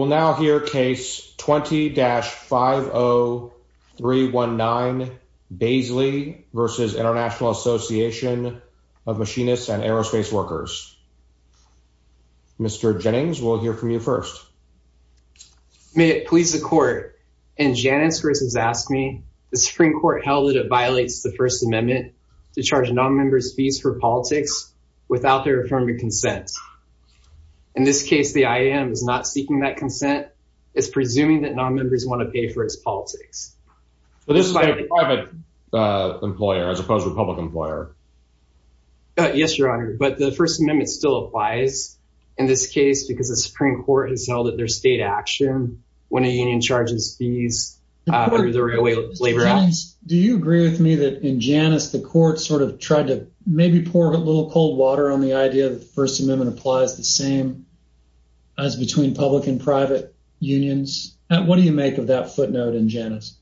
We will now hear case 20-50319, Baisley v. International Association of Machinists and Aerospace Workers. Mr. Jennings, we'll hear from you first. May it please the Court, in Janus v. Ask Me, the Supreme Court held that it violates the First Amendment to charge nonmembers' fees for politics without their affirming consent. In this case, the IAM is not seeking that consent. It's presuming that nonmembers want to pay for its politics. But this is a private employer as opposed to a public employer. Yes, Your Honor, but the First Amendment still applies in this case because the Supreme Court has held that there's state action when a union charges fees under the Railway Labor Act. Do you agree with me that in Janus the Court sort of tried to maybe pour a little cold water on the idea that the First Amendment applies the same as between public and private unions? What do you make of that footnote in Janus?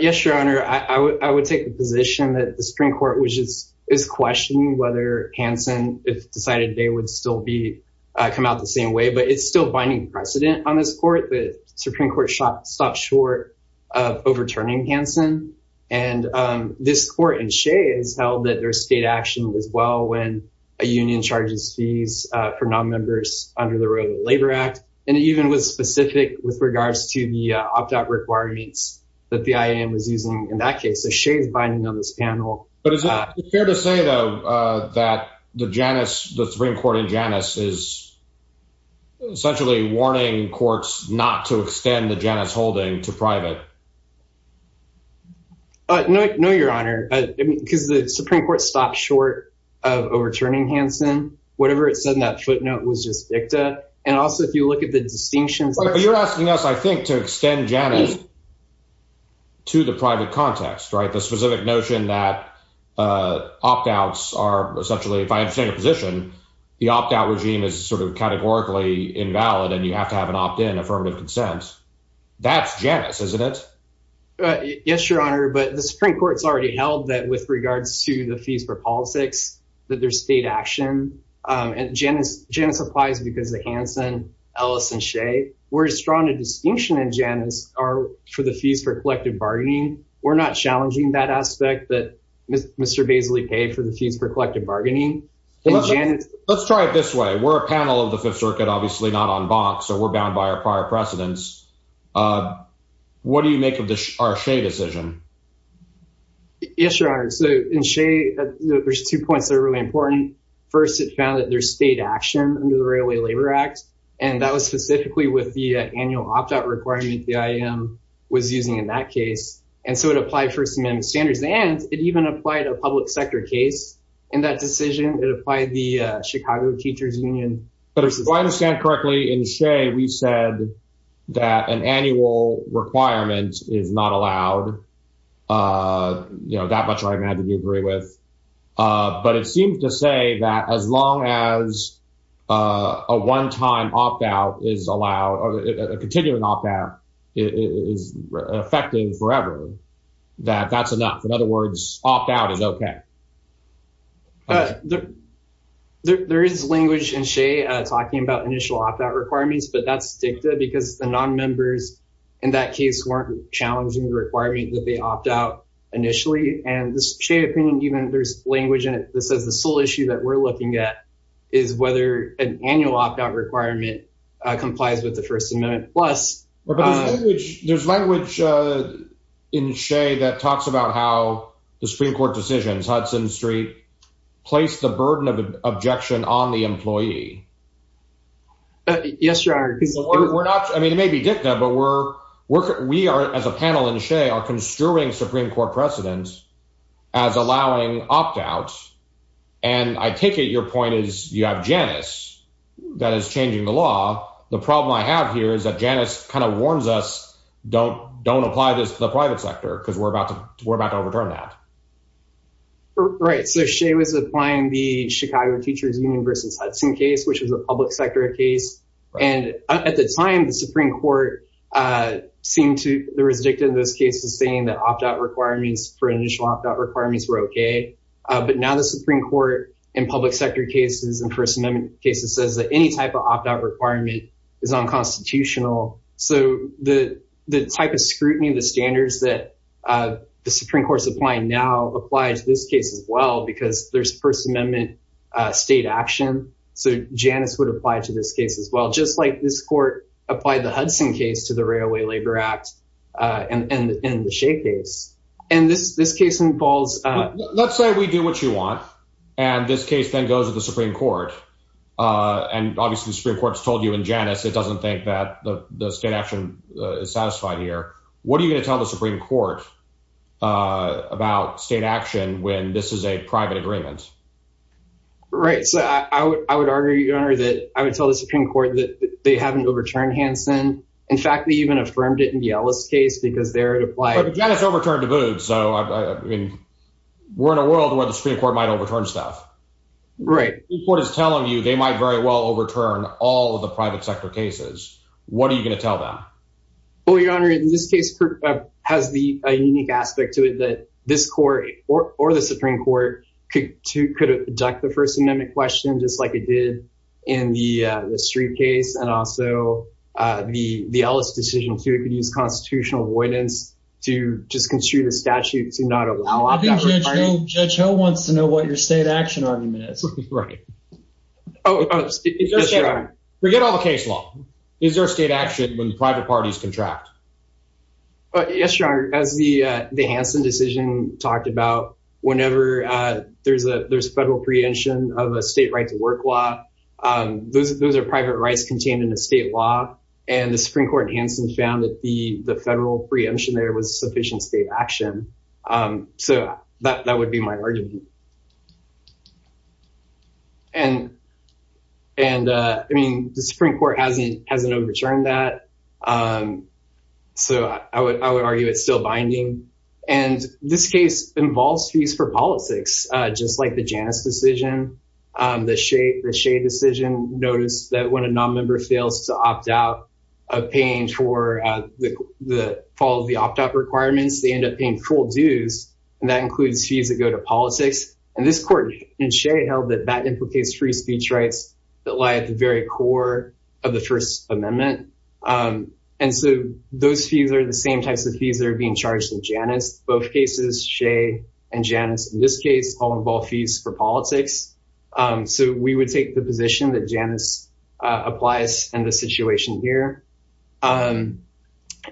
Yes, Your Honor, I would take the position that the Supreme Court is questioning whether Hansen, if decided, would still come out the same way. But it's still binding precedent on this Court. The Supreme Court stopped short of overturning Hansen. And this Court in Shea has held that there's state action as well when a union charges fees for nonmembers under the Railway Labor Act. And it even was specific with regards to the opt-out requirements that the IAM was using in that case. So Shea is binding on this panel. But is it fair to say, though, that the Janus, the Supreme Court in Janus is essentially warning courts not to extend the Janus holding to private? No, Your Honor, because the Supreme Court stopped short of overturning Hansen. Whatever it said in that footnote was just dicta. And also, if you look at the distinctions... But you're asking us, I think, to extend Janus to the private context, right? The specific notion that opt-outs are essentially, if I understand your position, the opt-out regime is sort of categorically invalid and you have to have an opt-in affirmative consent. That's Janus, isn't it? Yes, Your Honor, but the Supreme Court's already held that with regards to the fees for politics, that there's state action. And Janus applies because of Hansen, Ellis, and Shea. Whereas strong a distinction in Janus are for the fees for collective bargaining. We're not challenging that aspect that Mr. Baisley paid for the fees for collective bargaining. Let's try it this way. We're a panel of the Fifth Circuit, obviously not on bonks, so we're bound by our prior precedents. What do you make of our Shea decision? Yes, Your Honor. So in Shea, there's two points that are really important. First, it found that there's state action under the Railway Labor Act. And that was specifically with the annual opt-out requirement the IAM was using in that case. And so it applied First Amendment standards. And it even applied a public sector case in that decision. It applied the Chicago Teachers Union. If I understand correctly, in Shea, we said that an annual requirement is not allowed. That much I imagine you agree with. But it seems to say that as long as a one-time opt-out is allowed or a continuing opt-out is affecting forever, that that's enough. In other words, opt-out is okay. There is language in Shea talking about initial opt-out requirements, but that's dicta because the nonmembers in that case weren't challenging the requirement that they opt out initially. And this Shea opinion, even there's language in it that says the sole issue that we're looking at is whether an annual opt-out requirement complies with the First Amendment. There's language in Shea that talks about how the Supreme Court decisions, Hudson Street, placed the burden of objection on the employee. Yes, Your Honor. I mean, it may be dicta, but we are, as a panel in Shea, are construing Supreme Court precedence as allowing opt-outs. And I take it your point is you have Janice that is changing the law. The problem I have here is that Janice kind of warns us, don't apply this to the private sector because we're about to overturn that. Right. So Shea was applying the Chicago Teachers Union versus Hudson case, which was a public sector case. And at the time, the Supreme Court seemed to, there was dicta in those cases saying that opt-out requirements for initial opt-out requirements were OK. But now the Supreme Court in public sector cases and First Amendment cases says that any type of opt-out requirement is unconstitutional. So the type of scrutiny, the standards that the Supreme Court's applying now apply to this case as well, because there's First Amendment state action. So Janice would apply to this case as well, just like this court applied the Hudson case to the Railway Labor Act and the Shea case. And this case involves... Let's say we do what you want, and this case then goes to the Supreme Court. And obviously the Supreme Court's told you in Janice it doesn't think that the state action is satisfied here. What are you going to tell the Supreme Court about state action when this is a private agreement? Right. So I would argue, Your Honor, that I would tell the Supreme Court that they haven't overturned Hansen. In fact, they even affirmed it in the Ellis case because there it applied... But Janice overturned Daboud. So I mean, we're in a world where the Supreme Court might overturn stuff. Right. The Supreme Court is telling you they might very well overturn all of the private sector cases. What are you going to tell them? Well, Your Honor, in this case has a unique aspect to it that this court or the Supreme Court could deduct the First Amendment question just like it did in the Street case. And also the Ellis decision, too. It could use constitutional avoidance to just construe the statute to not allow... I think Judge Ho wants to know what your state action argument is. Right. Forget all the case law. Is there a state action when private parties contract? Yes, Your Honor. As the Hansen decision talked about, whenever there's a federal preemption of a state right to work law, those are private rights contained in a state law. And the Supreme Court in Hansen found that the federal preemption there was sufficient state action. So that would be my argument. And I mean, the Supreme Court hasn't overturned that. So I would argue it's still binding. And this case involves fees for politics, just like the Janus decision, the Shea decision. Notice that when a nonmember fails to opt out of paying for the fall of the And this court in Shea held that that implicates free speech rights that lie at the very core of the First Amendment. And so those fees are the same types of fees that are being charged in Janus. Both cases, Shea and Janus, in this case, all involve fees for politics. So we would take the position that Janus applies in this situation here. And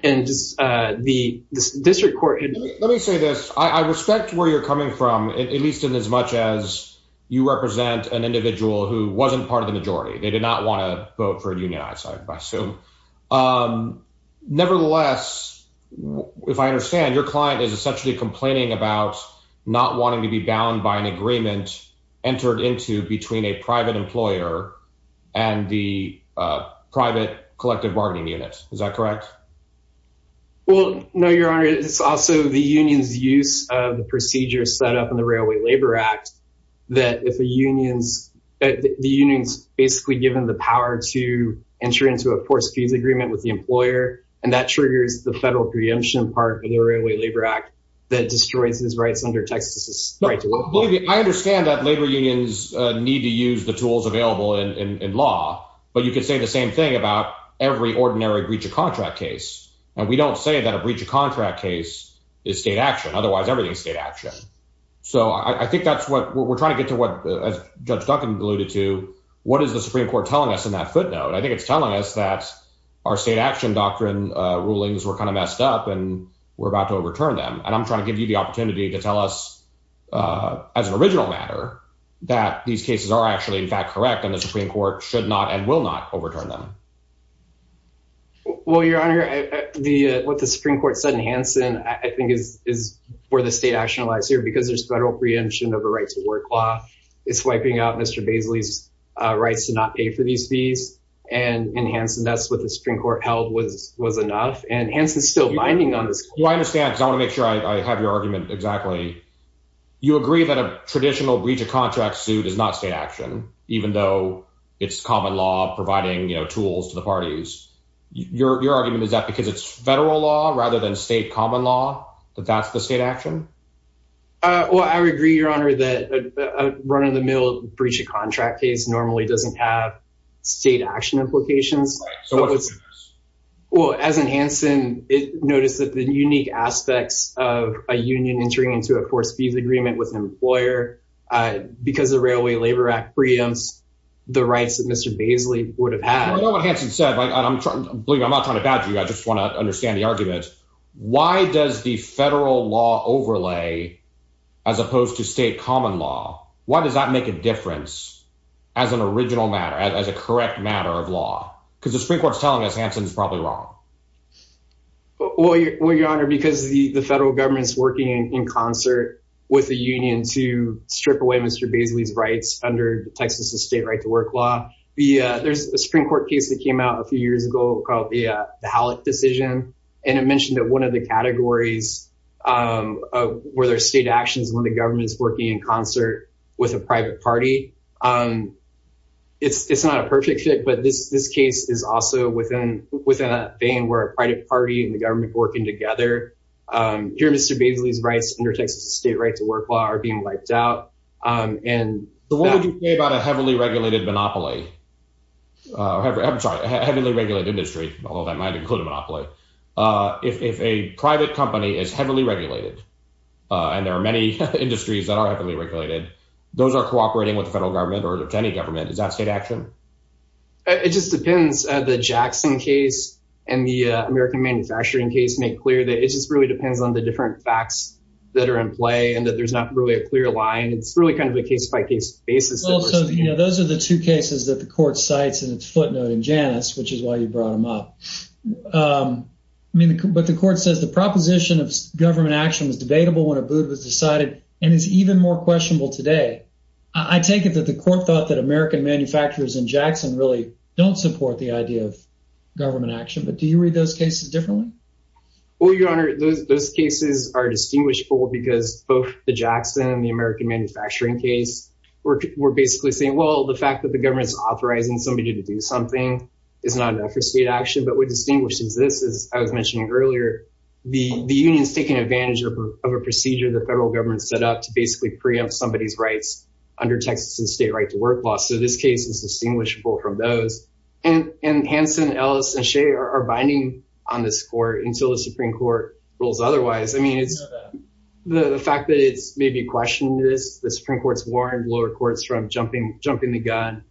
the district court... Let me say this. I respect where you're coming from, at least in as much as you represent an individual who wasn't part of the majority. They did not want to vote for a union, I assume. Nevertheless, if I understand, your client is essentially complaining about not wanting to be bound by an agreement entered into between a private employer and the private collective bargaining unit. Is that correct? Well, no, your honor. It's also the union's use of the procedure set up in the Railway Labor Act that if a union's... The union's basically given the power to enter into a forced fees agreement with the employer, and that triggers the federal preemption part of the Railway Labor Act that destroys his rights under Texas's right to vote. I understand that labor unions need to use the tools available in law, but you could say the contract case. And we don't say that a breach of contract case is state action. Otherwise, everything is state action. So I think that's what... We're trying to get to what, as Judge Duncan alluded to, what is the Supreme Court telling us in that footnote? I think it's telling us that our state action doctrine rulings were kind of messed up, and we're about to overturn them. And I'm trying to give you the opportunity to tell us as an original matter, that these cases are actually, in fact, correct, and the Supreme Court should not and will not overturn them. Well, Your Honor, what the Supreme Court said in Hansen, I think, is where the state action lies here, because there's federal preemption of a right to work law. It's wiping out Mr. Baisley's rights to not pay for these fees. And in Hansen, that's what the Supreme Court held was enough. And Hansen's still binding on this. Well, I understand, because I want to make sure I have your argument exactly. You agree that a traditional breach of contract suit is not state action, even though it's common law providing tools to the parties. Your argument is that because it's federal law rather than state common law, that that's the state action? Well, I agree, Your Honor, that a run-of-the-mill breach of contract case normally doesn't have state action implications. So what's the difference? Well, as in Hansen, notice that the unique aspects of a union entering into a forced agreement with an employer, because the Railway Labor Act preempts the rights that Mr. Baisley would have had. I know what Hansen said, and I'm not trying to badger you, I just want to understand the argument. Why does the federal law overlay as opposed to state common law, why does that make a difference as an original matter, as a correct matter of law? Because the Supreme Court's telling us Hansen's probably wrong. Well, Your Honor, because the federal government's working in concert with the union to strip away Mr. Baisley's rights under Texas' state right-to-work law. There's a Supreme Court case that came out a few years ago called the Hallock decision, and it mentioned that one of the categories where there's state actions when the government's working in concert with a private party. It's not a perfect fit, but this case is also within a vein where a private party and the government are working together. Here, Mr. Baisley's rights under Texas' state right-to-work law are being wiped out. What would you say about a heavily regulated monopoly? I'm sorry, a heavily regulated industry, although that might include a monopoly. If a private company is heavily regulated, and there are many industries that are heavily regulated, those are cooperating with the federal government. Is that a state action? It just depends. The Jackson case and the American manufacturing case make clear that it just really depends on the different facts that are in play, and that there's not really a clear line. It's really kind of a case-by-case basis. Those are the two cases that the court cites in its footnote in Janus, which is why you brought them up. But the court says the proposition of government action was debatable when Abood was decided and is even more questionable today. I take it that the court thought that American manufacturers in Jackson really don't support the idea of government action, but do you read those cases differently? Your Honor, those cases are distinguishable because both the Jackson and the American manufacturing case were basically saying, well, the fact that the government's authorizing somebody to do something is not enough for state action, but what distinguishes this is, as I was mentioning earlier, the union's taking advantage of a procedure the federal government set up to basically preempt somebody's rights under Texas's state right to work law. So this case is distinguishable from those. And Hanson, Ellis, and Shea are binding on this court until the Supreme Court rules otherwise. I mean, the fact that it's maybe questioning this, the Supreme Court's warned lower courts from jumping the gun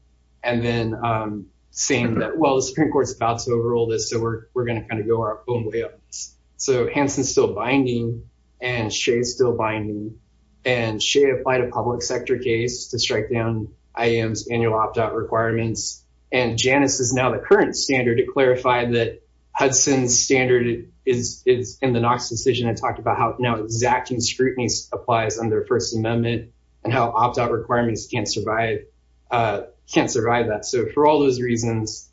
and then saying that, well, Supreme Court's about to overrule this, so we're going to kind of go our own way on this. So Hanson's still binding, and Shea's still binding, and Shea applied a public sector case to strike down IAM's annual opt-out requirements. And Janus is now the current standard to clarify that Hudson's standard is in the Knox decision and talked about how now exacting scrutiny applies under First Amendment and how opt-out requirements can't survive that. So for all those reasons,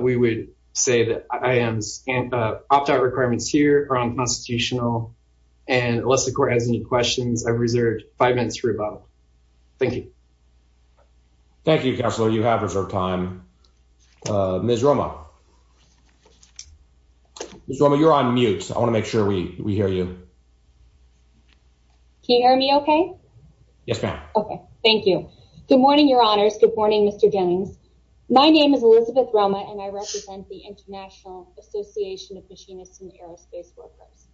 we would say that IAM's opt-out requirements here are unconstitutional, and unless the court has any questions, I've reserved five minutes for rebuttal. Thank you. Thank you, Counselor. You have reserved time. Ms. Roma. Ms. Roma, you're on mute. I want to make sure we hear you. Can you hear me okay? Yes, ma'am. Okay. Thank you. Good morning, Your Honors. Good morning, Mr. Jennings. My name is Elizabeth Roma, and I represent the International Association of Machinists and Aerospace Workers.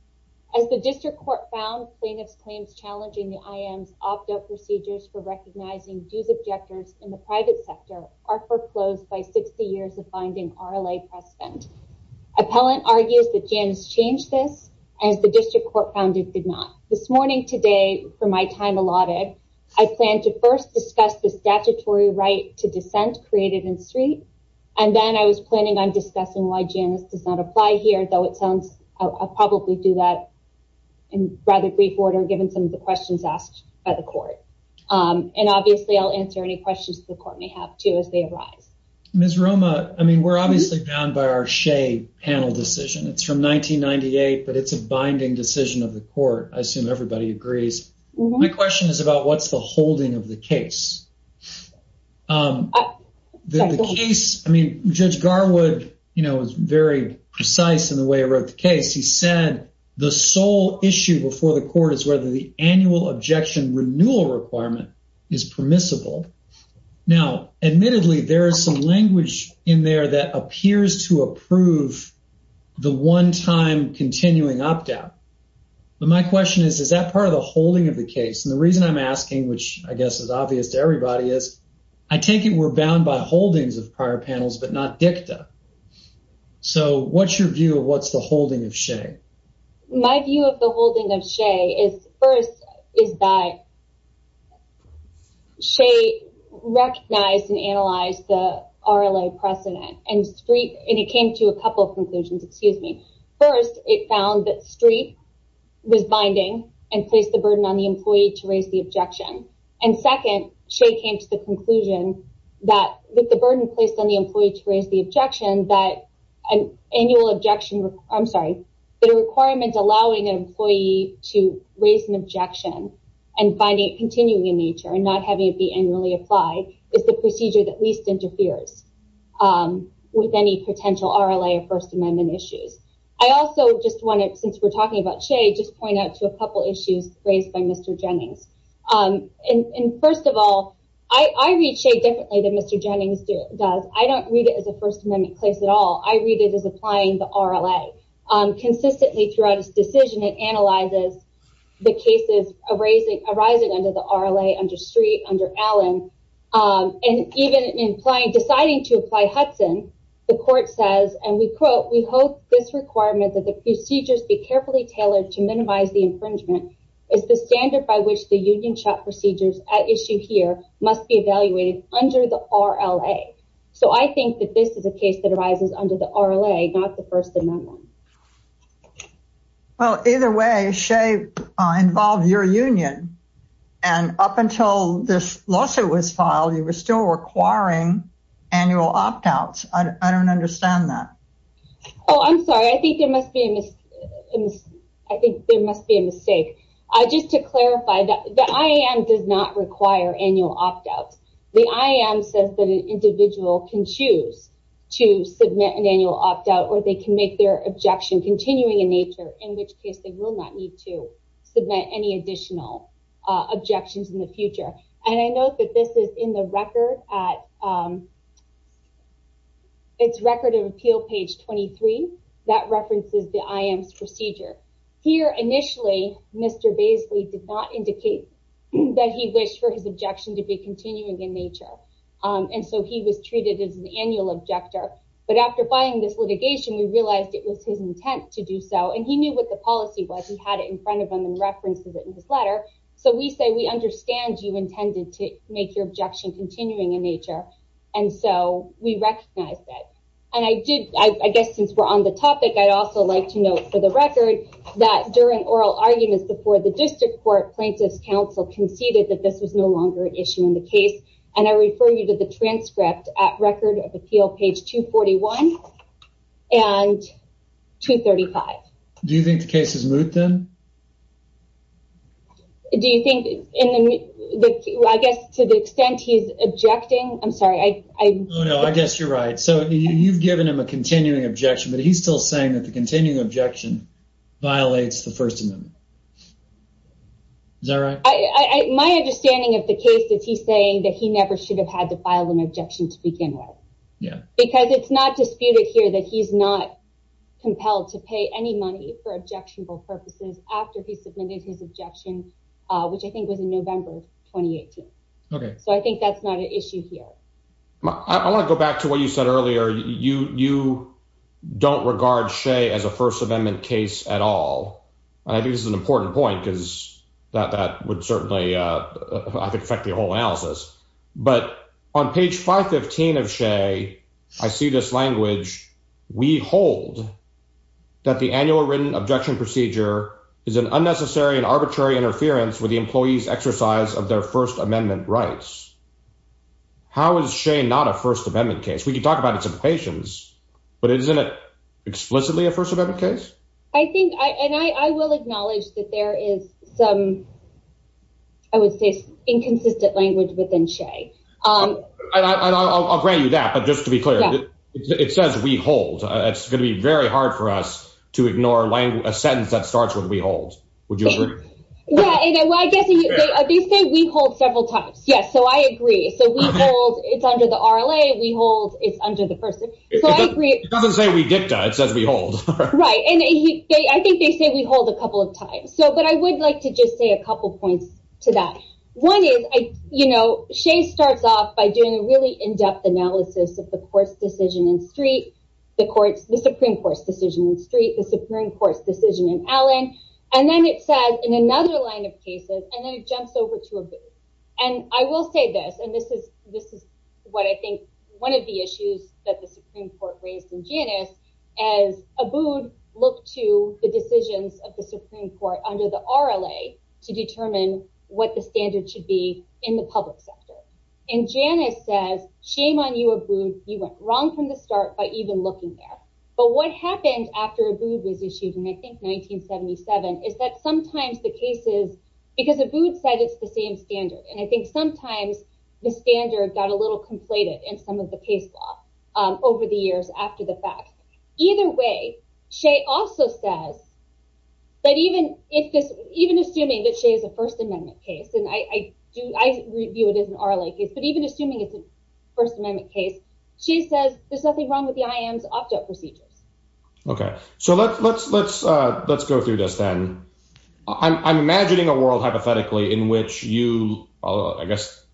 As the district court found, plaintiff's claims challenging the IAM's opt-out procedures for recognizing dues objectors in the private sector are foreclosed by 60 years of binding RLA press spend. Appellant argues that Janus changed this, as the district court found it did not. This morning, today, for my time allotted, I plan to first discuss the statutory right to dissent created in Street, and then I was planning on discussing why Janus does not apply here, though it sounds I'll probably do that in rather brief order, given some of the questions asked by the court. And obviously, I'll answer any questions the court may have, too, as they arise. Ms. Roma, I mean, we're obviously bound by our Shea panel decision. It's from 1998, but it's a binding decision of the court. I assume everybody agrees. My question is about what's the holding of the case? I mean, Judge Garwood, you know, was very precise in the way he wrote the case. He said the sole issue before the court is whether the annual objection renewal requirement is permissible. Now, admittedly, there is some language in there that appears to approve the one-time continuing opt-out. But my question is, is that part of the holding of the case? And the reason I'm asking, which I guess is obvious to everybody, is I take it we're bound by holdings of prior panels, but not dicta. So, what's your view of what's the holding of Shea? My view of the holding of Shea is, first, is that Shea recognized and analyzed the conclusions. First, it found that Street was binding and placed the burden on the employee to raise the objection. And second, Shea came to the conclusion that with the burden placed on the employee to raise the objection, that an annual objection, I'm sorry, the requirement allowing an employee to raise an objection and finding it continuing in nature and not having it be annually applied is the procedure that least interferes with any potential RLA or First Amendment issues. I also just wanted, since we're talking about Shea, just point out to a couple issues raised by Mr. Jennings. And first of all, I read Shea differently than Mr. Jennings does. I don't read it as a First Amendment case at all. I read it as applying the RLA. Consistently throughout his decision, it analyzes the cases arising under the RLA, under Street, under Allen. And even in deciding to apply Hudson, the court says, and we quote, we hope this requirement that the procedures be carefully tailored to minimize the infringement is the standard by which the union procedures at issue here must be evaluated under the RLA. So, I think that this is a case that arises under the RLA, not the First Amendment. Well, either way, Shea involved your union. And up until this lawsuit was filed, you were still requiring annual opt-outs. I don't understand that. Oh, I'm sorry. I think there must be a mistake. Just to clarify, the IAM does not require annual opt-outs. The IAM says that an individual can choose to submit an annual opt-out or they can make their objection continuing in nature, in which case they will not need to submit any additional objections in the future. And I note that this is in the record at, it's Record of Appeal, page 23, that references the IAM's procedure. Here, initially, Mr. Baisley did not indicate that he wished for his objection to be continuing in nature. And so, he was treated as an annual objector. But after filing this litigation, we realized it was his intent to do so. And he knew what the policy was. He had it in front of him and referenced it in his letter. So, we say, we understand you intended to make your objection continuing in nature. And so, we recognized that. And I did, I guess, since we're on the topic, I'd also like to note for the record that during oral arguments before the district court, Plaintiffs' Council conceded that this was no longer an issue in the case. And I refer you to the transcript at Record of Appeal, page 241 and 235. Do you think the case is moot then? Do you think, I guess, to the extent he's objecting, I'm sorry, I... No, no, I guess you're right. So, you've given him a continuing objection, but he's still saying the continuing objection violates the First Amendment. Is that right? My understanding of the case is he's saying that he never should have had to file an objection to begin with. Yeah. Because it's not disputed here that he's not compelled to pay any money for objectionable purposes after he submitted his objection, which I think was in November 2018. Okay. So, I think that's not an issue here. I want to go back to what you said earlier. You don't regard Shea as a First Amendment case at all. And I think this is an important point, because that would certainly, I think, affect the whole analysis. But on page 515 of Shea, I see this language, we hold that the annual written objection procedure is an unnecessary and arbitrary interference with the employee's exercise of their First Amendment rights. How is Shea not a First Amendment case? We can talk about its implications, but isn't it explicitly a First Amendment case? I think, and I will acknowledge that there is some, I would say, inconsistent language within Shea. I'll grant you that, but just to be clear, it says we hold. It's going to be very hard for us to ignore a sentence that starts with we hold. Would you agree? Well, I guess they say we hold several times. Yes. So, I agree. So, we hold. It's under the RLA. We hold. It's under the First Amendment. So, I agree. It doesn't say we dicta. It says we hold. Right. And I think they say we hold a couple of times. So, but I would like to just say a couple points to that. One is, you know, Shea starts off by doing a really in-depth analysis of the court's decision in Street, the Supreme Court's decision in Street, the Supreme Court's decision in Allen, and then it says in another line of cases, and then it jumps over to Abood. And I will say this, and this is what I think one of the issues that the Supreme Court raised in Janus is Abood looked to the decisions of the Supreme Court under the RLA to determine what the standard should be in the public sector. And Janus says, shame on you, Abood. You went wrong from the start by even looking there. But what happened after Abood was issued in, I think, 1977 is that sometimes the cases, because Abood said it's the same standard. And I think sometimes the standard got a little conflated in some of the case law over the years after the fact. Either way, Shea also says that even if this, even assuming that Shea is a First Amendment case, and I do, I view it as an First Amendment case, Shea says there's nothing wrong with the IM's opt-out procedures. Okay. So let's go through this then. I'm imagining a world hypothetically in which you, I guess,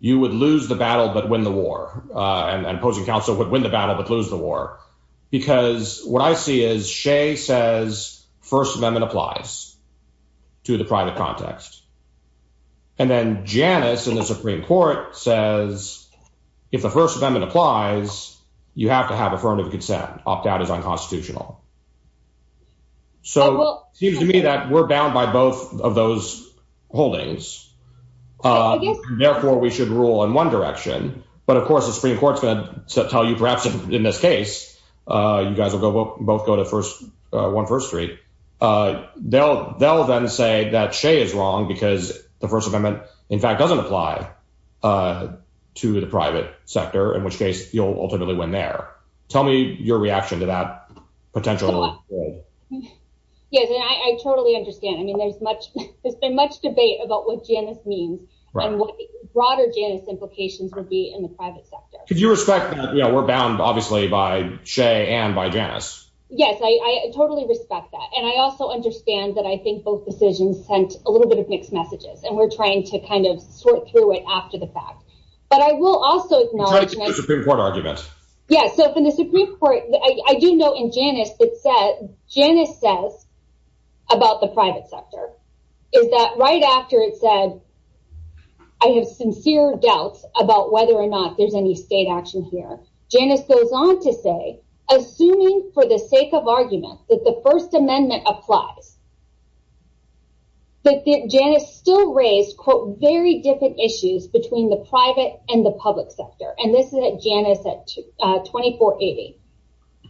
you would lose the battle but win the war. And opposing counsel would win the battle but lose the war. Because what I see is Shea says First Amendment applies to the private context. And then Janus in the Supreme Court says, if the First Amendment applies, you have to have affirmative consent. Opt-out is unconstitutional. So it seems to me that we're bound by both of those holdings. Therefore, we should rule in one direction. But of course, the Supreme Court's going to tell you, perhaps in this case, you guys the First Amendment, in fact, doesn't apply to the private sector, in which case, you'll ultimately win there. Tell me your reaction to that potential. Yes, I totally understand. I mean, there's much, there's been much debate about what Janus means, and what broader Janus implications would be in the private sector. Could you respect that we're bound, obviously, by Shea and by Janus? Yes, I totally respect that. And I also understand that I think both decisions sent a little bit of mixed messages, and we're trying to kind of sort through it after the fact. But I will also acknowledge the Supreme Court argument. Yes. So in the Supreme Court, I do know in Janus, it says, Janus says, about the private sector, is that right after it said, I have sincere doubts about whether or not there's any state action here. Janus goes on to say, assuming for the sake of argument that the First Amendment applies, that Janus still raised, quote, very different issues between the private and the public sector. And this is at Janus at 2480.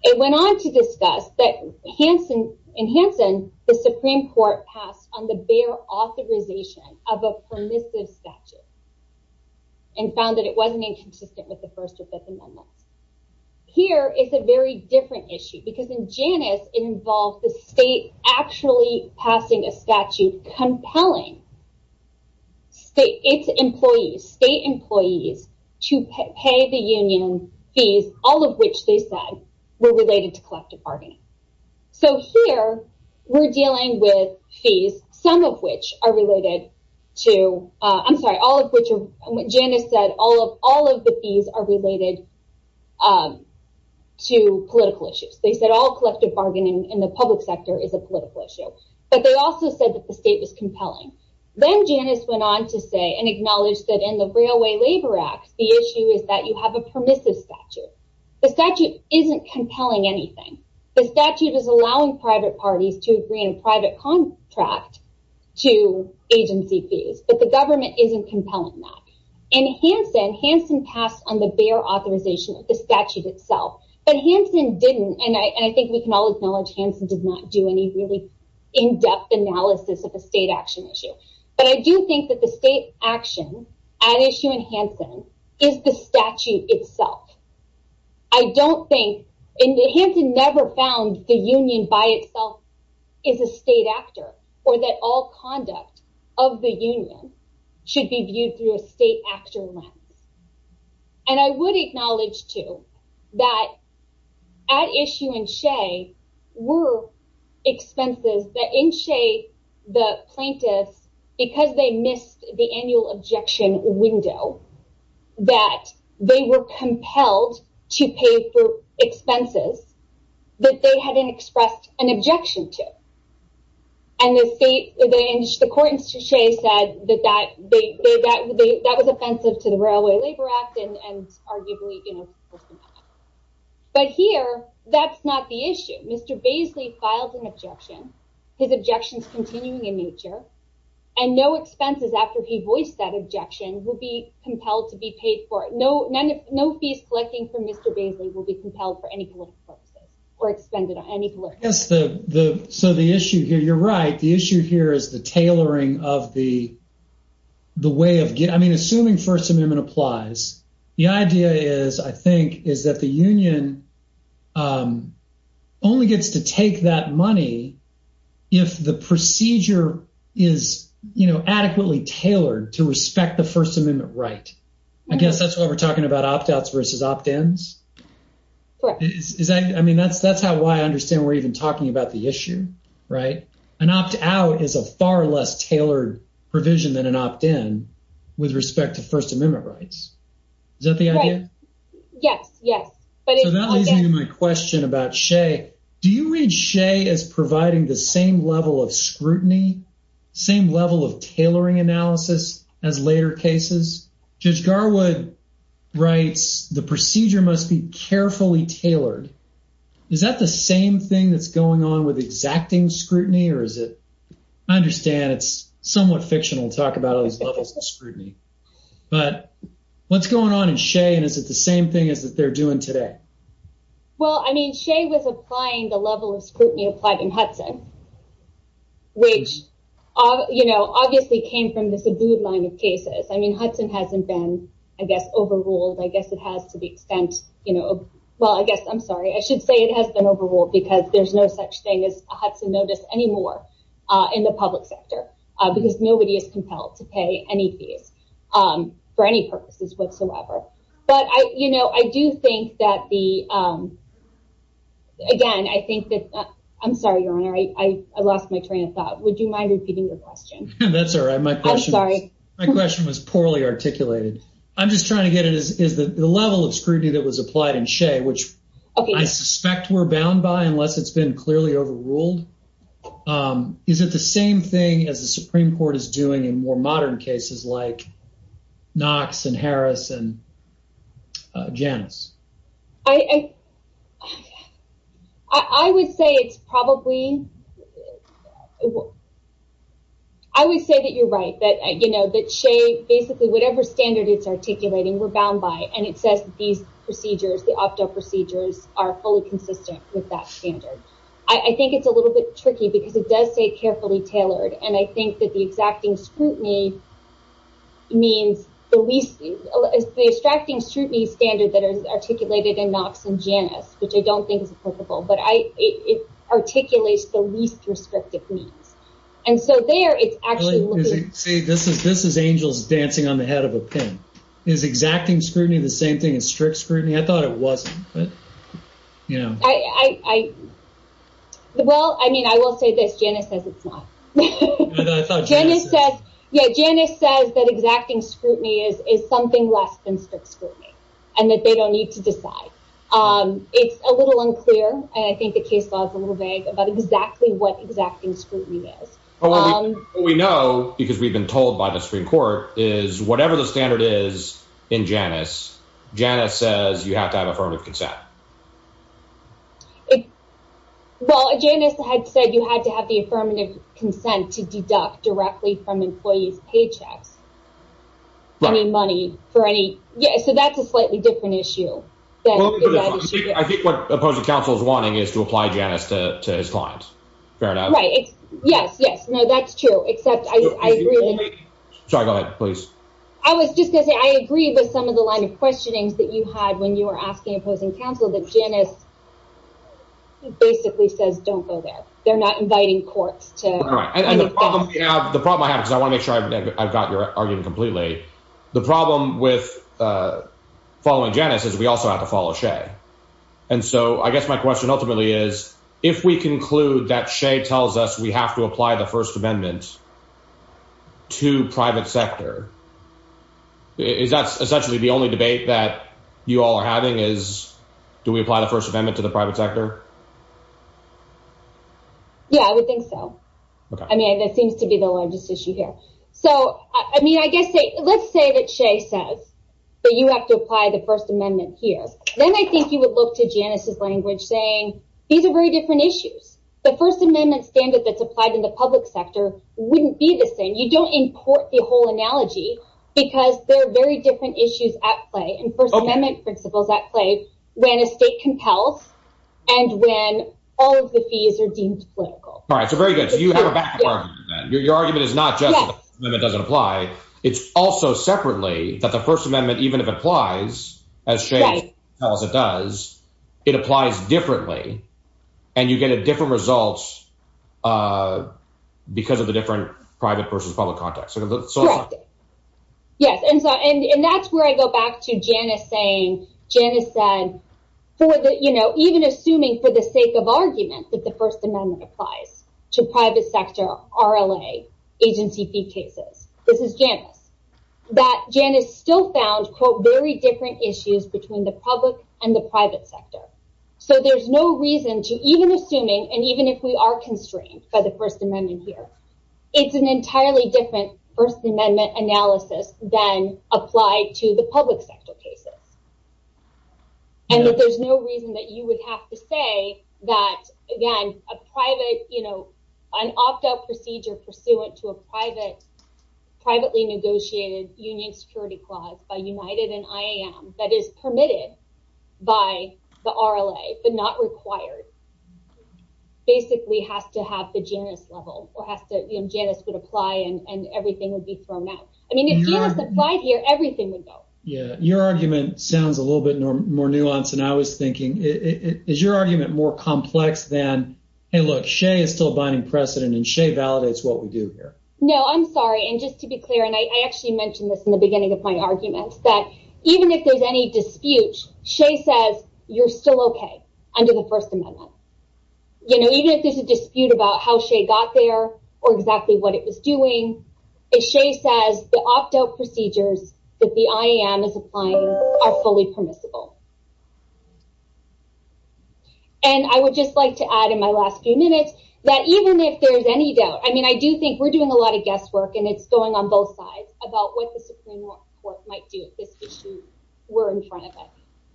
It went on to discuss that in Hansen, the Supreme Court passed on the bare authorization of a permissive statute, and found that it wasn't inconsistent with the First or Fifth Amendments. Here is a very different issue, because in Janus, it involved the state actually passing a statute compelling state employees, state employees to pay the union fees, all of which they said, were related to collective bargaining. So here, we're dealing with fees, some of which are related to, I'm sorry, all of which Janus said, all of the fees are related to political issues. They said all collective bargaining in the public sector is a political issue. But they also said that the state was compelling. Then Janus went on to say, and acknowledged that in the Railway Labor Act, the issue is that you have a permissive statute. The statute isn't compelling anything. The statute is allowing private parties to agree on a private contract to agency fees, but the government isn't compelling that. In Hansen, Hansen passed on the bare authorization of the statute itself. But Hansen didn't, and I think we can all acknowledge Hansen did not do any really in-depth analysis of a state action issue. But I do think that the state action at issue in Hansen is the statute itself. I don't think, Hansen never found the union by itself is a state actor, or that all conduct of the union should be viewed through a state actor lens. And I would acknowledge too, that at issue in Shea, were expenses that in Shea, the plaintiffs, because they missed the annual objection window, that they were compelled to pay for expenses that they hadn't expressed an objection to. And the court in Shea said that that was offensive to the Railway Labor Act, and arguably forced them out. But here, that's not the issue. Mr. Baisley filed an objection, his objections continuing in nature, and no expenses after he voiced that objection will be compelled to be paid for. No fees collecting from Mr. Baisley will be compelled for any political purposes, or expended on any political purposes. So the issue here, you're right, the issue here is the tailoring of the way of, I mean, assuming First Amendment applies, the idea is, I think, is that the union only gets to take that money if the procedure is adequately tailored to respect the First Amendment right. I guess that's why we're talking about opt-outs versus opt-ins. I mean, that's how I understand we're even talking about the issue, right? An opt-out is a far less tailored provision than an opt-in with respect to First Amendment rights. Is that the idea? Yes, yes. So that leads me to my question about Shea. Do you read Shea as providing the same level of scrutiny, same level of tailoring analysis as later cases? Judge Garwood writes, the procedure must be carefully tailored. Is that the same thing that's going on with exacting scrutiny, or is it, I understand it's somewhat fictional to talk about all these levels of scrutiny, but what's going on in Shea, and is it the same thing as that they're doing today? Well, I mean, Shea was applying the level of scrutiny applied in Hudson, which obviously came from this abode line of cases. I mean, the extent, well, I guess, I'm sorry, I should say it has been overruled because there's no such thing as a Hudson notice anymore in the public sector, because nobody is compelled to pay any fees for any purposes whatsoever. But I do think that the, again, I think that, I'm sorry, Your Honor, I lost my train of thought. Would you mind repeating your question? That's all right. My question was poorly articulated. I'm just trying to get it, is the level of scrutiny that was applied in Shea, which I suspect were bound by unless it's been clearly overruled, is it the same thing as the Supreme Court is doing in more modern cases like Knox and Harris and Janice? I would say it's probably, I would say that you're right, that Shea, basically whatever standard it's articulating, we're bound by, and it says these procedures, the opto procedures are fully consistent with that standard. I think it's a little bit tricky because it does say carefully tailored, and I think that the exacting scrutiny means the least, the extracting scrutiny standard that is articulated in Knox and Janice, which I don't think is appropriate, but it articulates the least restrictive means. And so there, it's actually- See, this is angels dancing on the head of a pin. Is exacting scrutiny the same thing as strict scrutiny? I thought it wasn't. Well, I mean, I will say this, Janice says it's not. Janice says that exacting scrutiny is something less than strict scrutiny, and that they don't need to decide. It's a little unclear, and I think the case law is a little vague about exactly what exacting scrutiny is. What we know, because we've been told by the Supreme Court, is whatever the standard is in Janice, Janice says you have to have affirmative consent. Well, Janice had said you had to have the affirmative consent to deduct directly from employees' paychecks, any money for any... Yeah, so that's a slightly different issue. I think what opposing counsel is wanting is to apply Janice to his client. Fair enough. Yes, yes. No, that's true, except I agree- Sorry, go ahead, please. I was just going to say, I agree with some of the line of questionings that you had when you were asking opposing counsel that Janice basically says, don't go there. They're not inviting courts to- All right. And the problem I have, because I want to make sure I've got your argument completely, the problem with following Janice is we also have to follow Shea. And so I guess my question ultimately is, if we conclude that Shea tells us we have to apply the First Amendment to private sector, is that essentially the only debate that you all are having is, do we apply the First Amendment to the private sector? Yeah, I would think so. I mean, that seems to be the largest issue here. So, I mean, I guess let's say that Shea says that you have to apply the First Amendment here, then I think you would look to Janice's language saying, these are very different issues. The First Amendment standard that's applied in the public sector wouldn't be the same. You don't import the whole analogy because there are very different issues at play and First Amendment principles at play when a state compels and when all of the fees are deemed political. All right. So, very good. So, you have a backup argument then. Your argument is not just that the First Amendment doesn't apply. It's also separately that the First Amendment, even if it applies, as Shea tells it does, it applies differently and you get different results because of the different private versus public context. Yes. And that's where I go back to Janice saying, Janice said, even assuming for the sake of this, this is Janice, that Janice still found, quote, very different issues between the public and the private sector. So, there's no reason to even assuming, and even if we are constrained by the First Amendment here, it's an entirely different First Amendment analysis than applied to the public sector cases. And that there's no reason that you would have to say that, again, a private, an opt-out procedure pursuant to a privately negotiated union security clause by United and IAM that is permitted by the RLA, but not required, basically has to have the Janice level or Janice would apply and everything would be thrown out. I mean, if Janice applied here, everything would go. Yeah. Your argument sounds a little bit more nuanced than I was thinking. Is your argument more complex than, hey, look, Shay is still abiding precedent and Shay validates what we do here. No, I'm sorry. And just to be clear, and I actually mentioned this in the beginning of my argument that even if there's any dispute, Shay says you're still okay under the First Amendment. You know, even if there's a dispute about how Shay got there or exactly what it was doing, Shay says the opt-out procedures that the IAM is applying are fully permissible. And I would just like to add in my last few minutes that even if there's any doubt, I mean, I do think we're doing a lot of guesswork and it's going on both sides about what the Supreme Court might do if this issue were in front of us.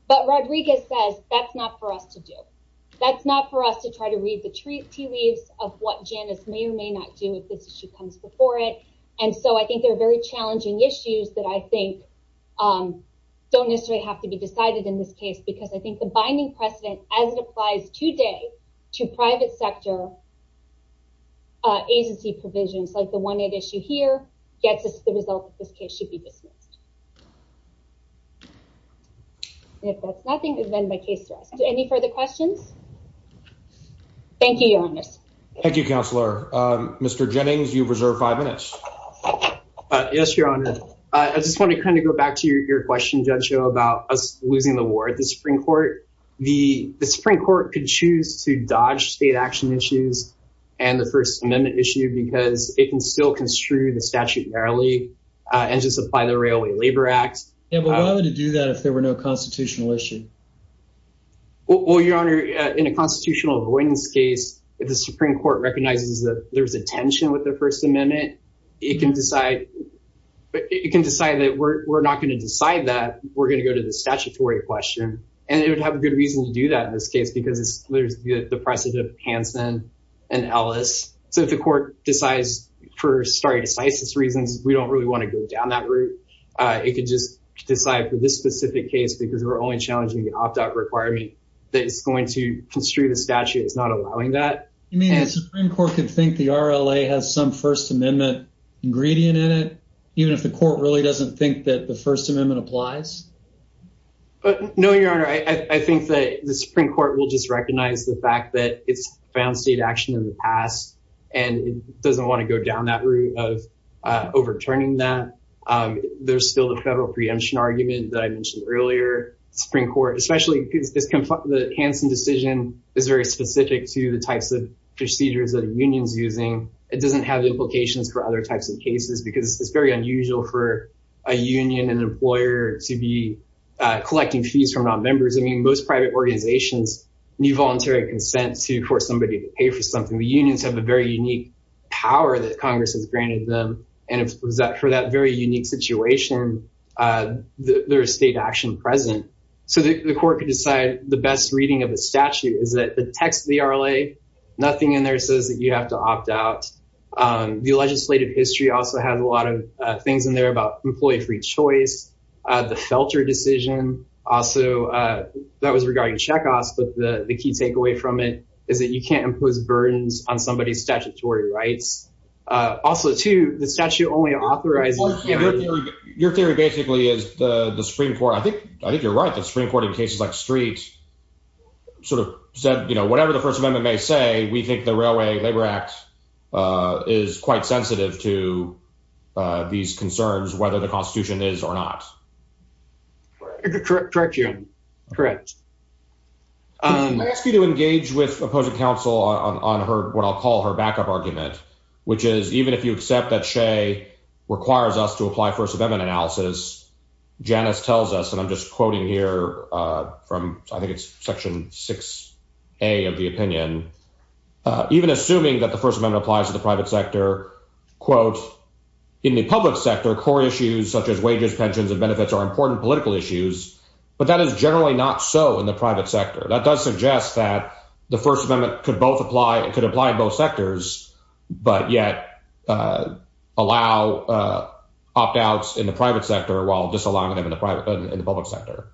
But Rodriguez says that's not for us to do. That's not for us to try to read the tea leaves of what Janice may or may not do if this issue comes before it. And so I think there are very challenging issues that I think don't necessarily have to be decided in this case, because I think the binding precedent as it applies today to private sector agency provisions, like the one at issue here, gets us the result that this case should be dismissed. If that's nothing, then my case to us. Any further questions? Thank you, Your Honor. Thank you, Counselor. Mr. Jennings, you've reserved five minutes. Yes, Your Honor. I just want to kind of go back to your question, Judge Joe, about us losing the war at the Supreme Court. The Supreme Court could choose to dodge state action issues and the First Amendment issue because it can still construe the statute narrowly and just apply the Railway Labor Act. Yeah, but why would it do that if there were no constitutional issue? Well, Your Honor, in a constitutional avoidance case, if the Supreme Court recognizes that there's a tension with the First Amendment, it can decide that we're not going to decide that, we're going to go to the statutory question. And it would have a good reason to do that in this case, because there's the precedent of Hansen and Ellis. So if the court decides, for stare decisis reasons, we don't really want to go down that route, it could just decide for this specific case because we're only challenging the opt-out requirement that it's going to construe the statute. It's not allowing that. You mean the Supreme Court could think the RLA has some First Amendment ingredient in it, even if the court really doesn't think that the First Amendment applies? No, Your Honor. I think that the Supreme Court will just recognize the fact that it's found state action in the past and it doesn't want to go down that route of overturning that. There's still the federal preemption argument that I mentioned earlier, Supreme Court, especially because the Hansen decision is very specific to the types of procedures that a union's using. It doesn't have implications for other types of cases, because it's very unusual for a union and employer to be collecting fees from non-members. I mean, most private organizations need voluntary consent to force somebody to pay for something. The unions have a very unique power that Congress has granted them. And for that very unique situation, there's state action present. So the court could decide the best reading of the statute is that the text of the RLA, nothing in there says that you have to opt out. The legislative history also has a lot of things in there about employee-free choice. The Felter decision also, that was burdens on somebody's statutory rights. Also, too, the statute only authorizes... Your theory basically is the Supreme Court, I think you're right, the Supreme Court in cases like Street sort of said, you know, whatever the First Amendment may say, we think the Railway Labor Act is quite sensitive to these concerns, whether the Constitution is or not. Correct you. Correct. I ask you to engage with opposing counsel on what I'll call her backup argument, which is even if you accept that Shea requires us to apply First Amendment analysis, Janice tells us, and I'm just quoting here from I think it's section 6A of the opinion, even assuming that the First Amendment applies to the private sector, in the public sector, core issues such as wages, pensions, and benefits are important political issues. But that is generally not so in the private sector. That does suggest that the First Amendment could apply in both sectors, but yet allow opt-outs in the private sector while disallowing them in the public sector.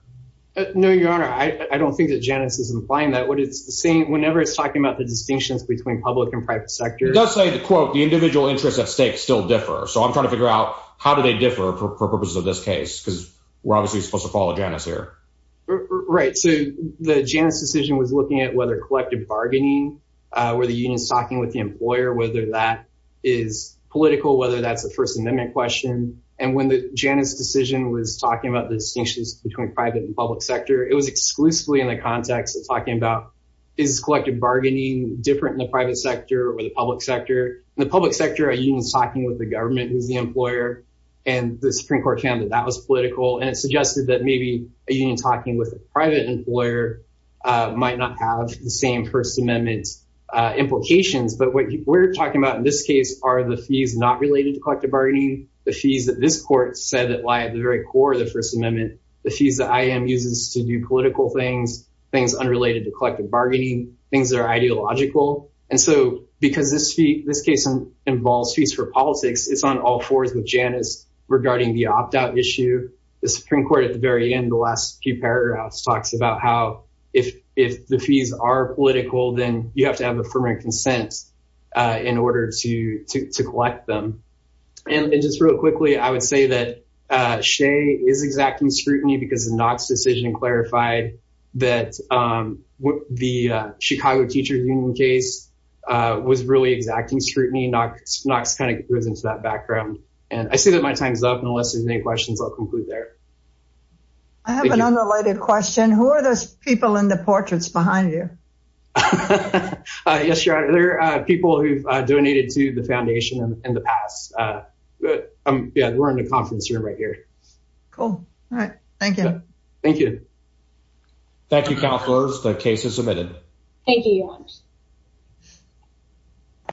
No, Your Honor, I don't think that Janice is implying that. Whenever it's talking about the distinctions between public and private sector... It does say, quote, the individual interests at stake still differ. So I'm trying to figure out how do they differ for purposes of this case? Because we're obviously supposed to follow Janice here. Right. So the Janice decision was looking at whether collective bargaining, where the union is talking with the employer, whether that is political, whether that's the First Amendment question. And when the Janice decision was talking about the distinctions between private and public sector, it was exclusively in the context of talking about is collective bargaining different in the private sector or the public sector? In the public sector, a union is talking with the employer and the Supreme Court found that that was political. And it suggested that maybe a union talking with a private employer might not have the same First Amendment implications. But what we're talking about in this case are the fees not related to collective bargaining, the fees that this court said that lie at the very core of the First Amendment, the fees that I.M. uses to do political things, things unrelated to collective bargaining, things that are ideological. And so because this this case involves fees for politics, it's on all fours with Janice regarding the opt out issue. The Supreme Court at the very end, the last few paragraphs talks about how if if the fees are political, then you have to have affirmative consent in order to to collect them. And just real quickly, I would say that Shea is exacting scrutiny because the Knox decision clarified that the Chicago Teachers Union case was really exacting scrutiny. Knox kind of goes into that background. And I see that my time's up. And unless there's any questions, I'll conclude there. I have an unrelated question. Who are those people in the portraits behind you? Yes, there are people who donated to the foundation in the past. But yeah, we're in a conference room right here. Cool. All right. Thank you. Thank you. Thank you, counselors. The case is submitted. Thank you.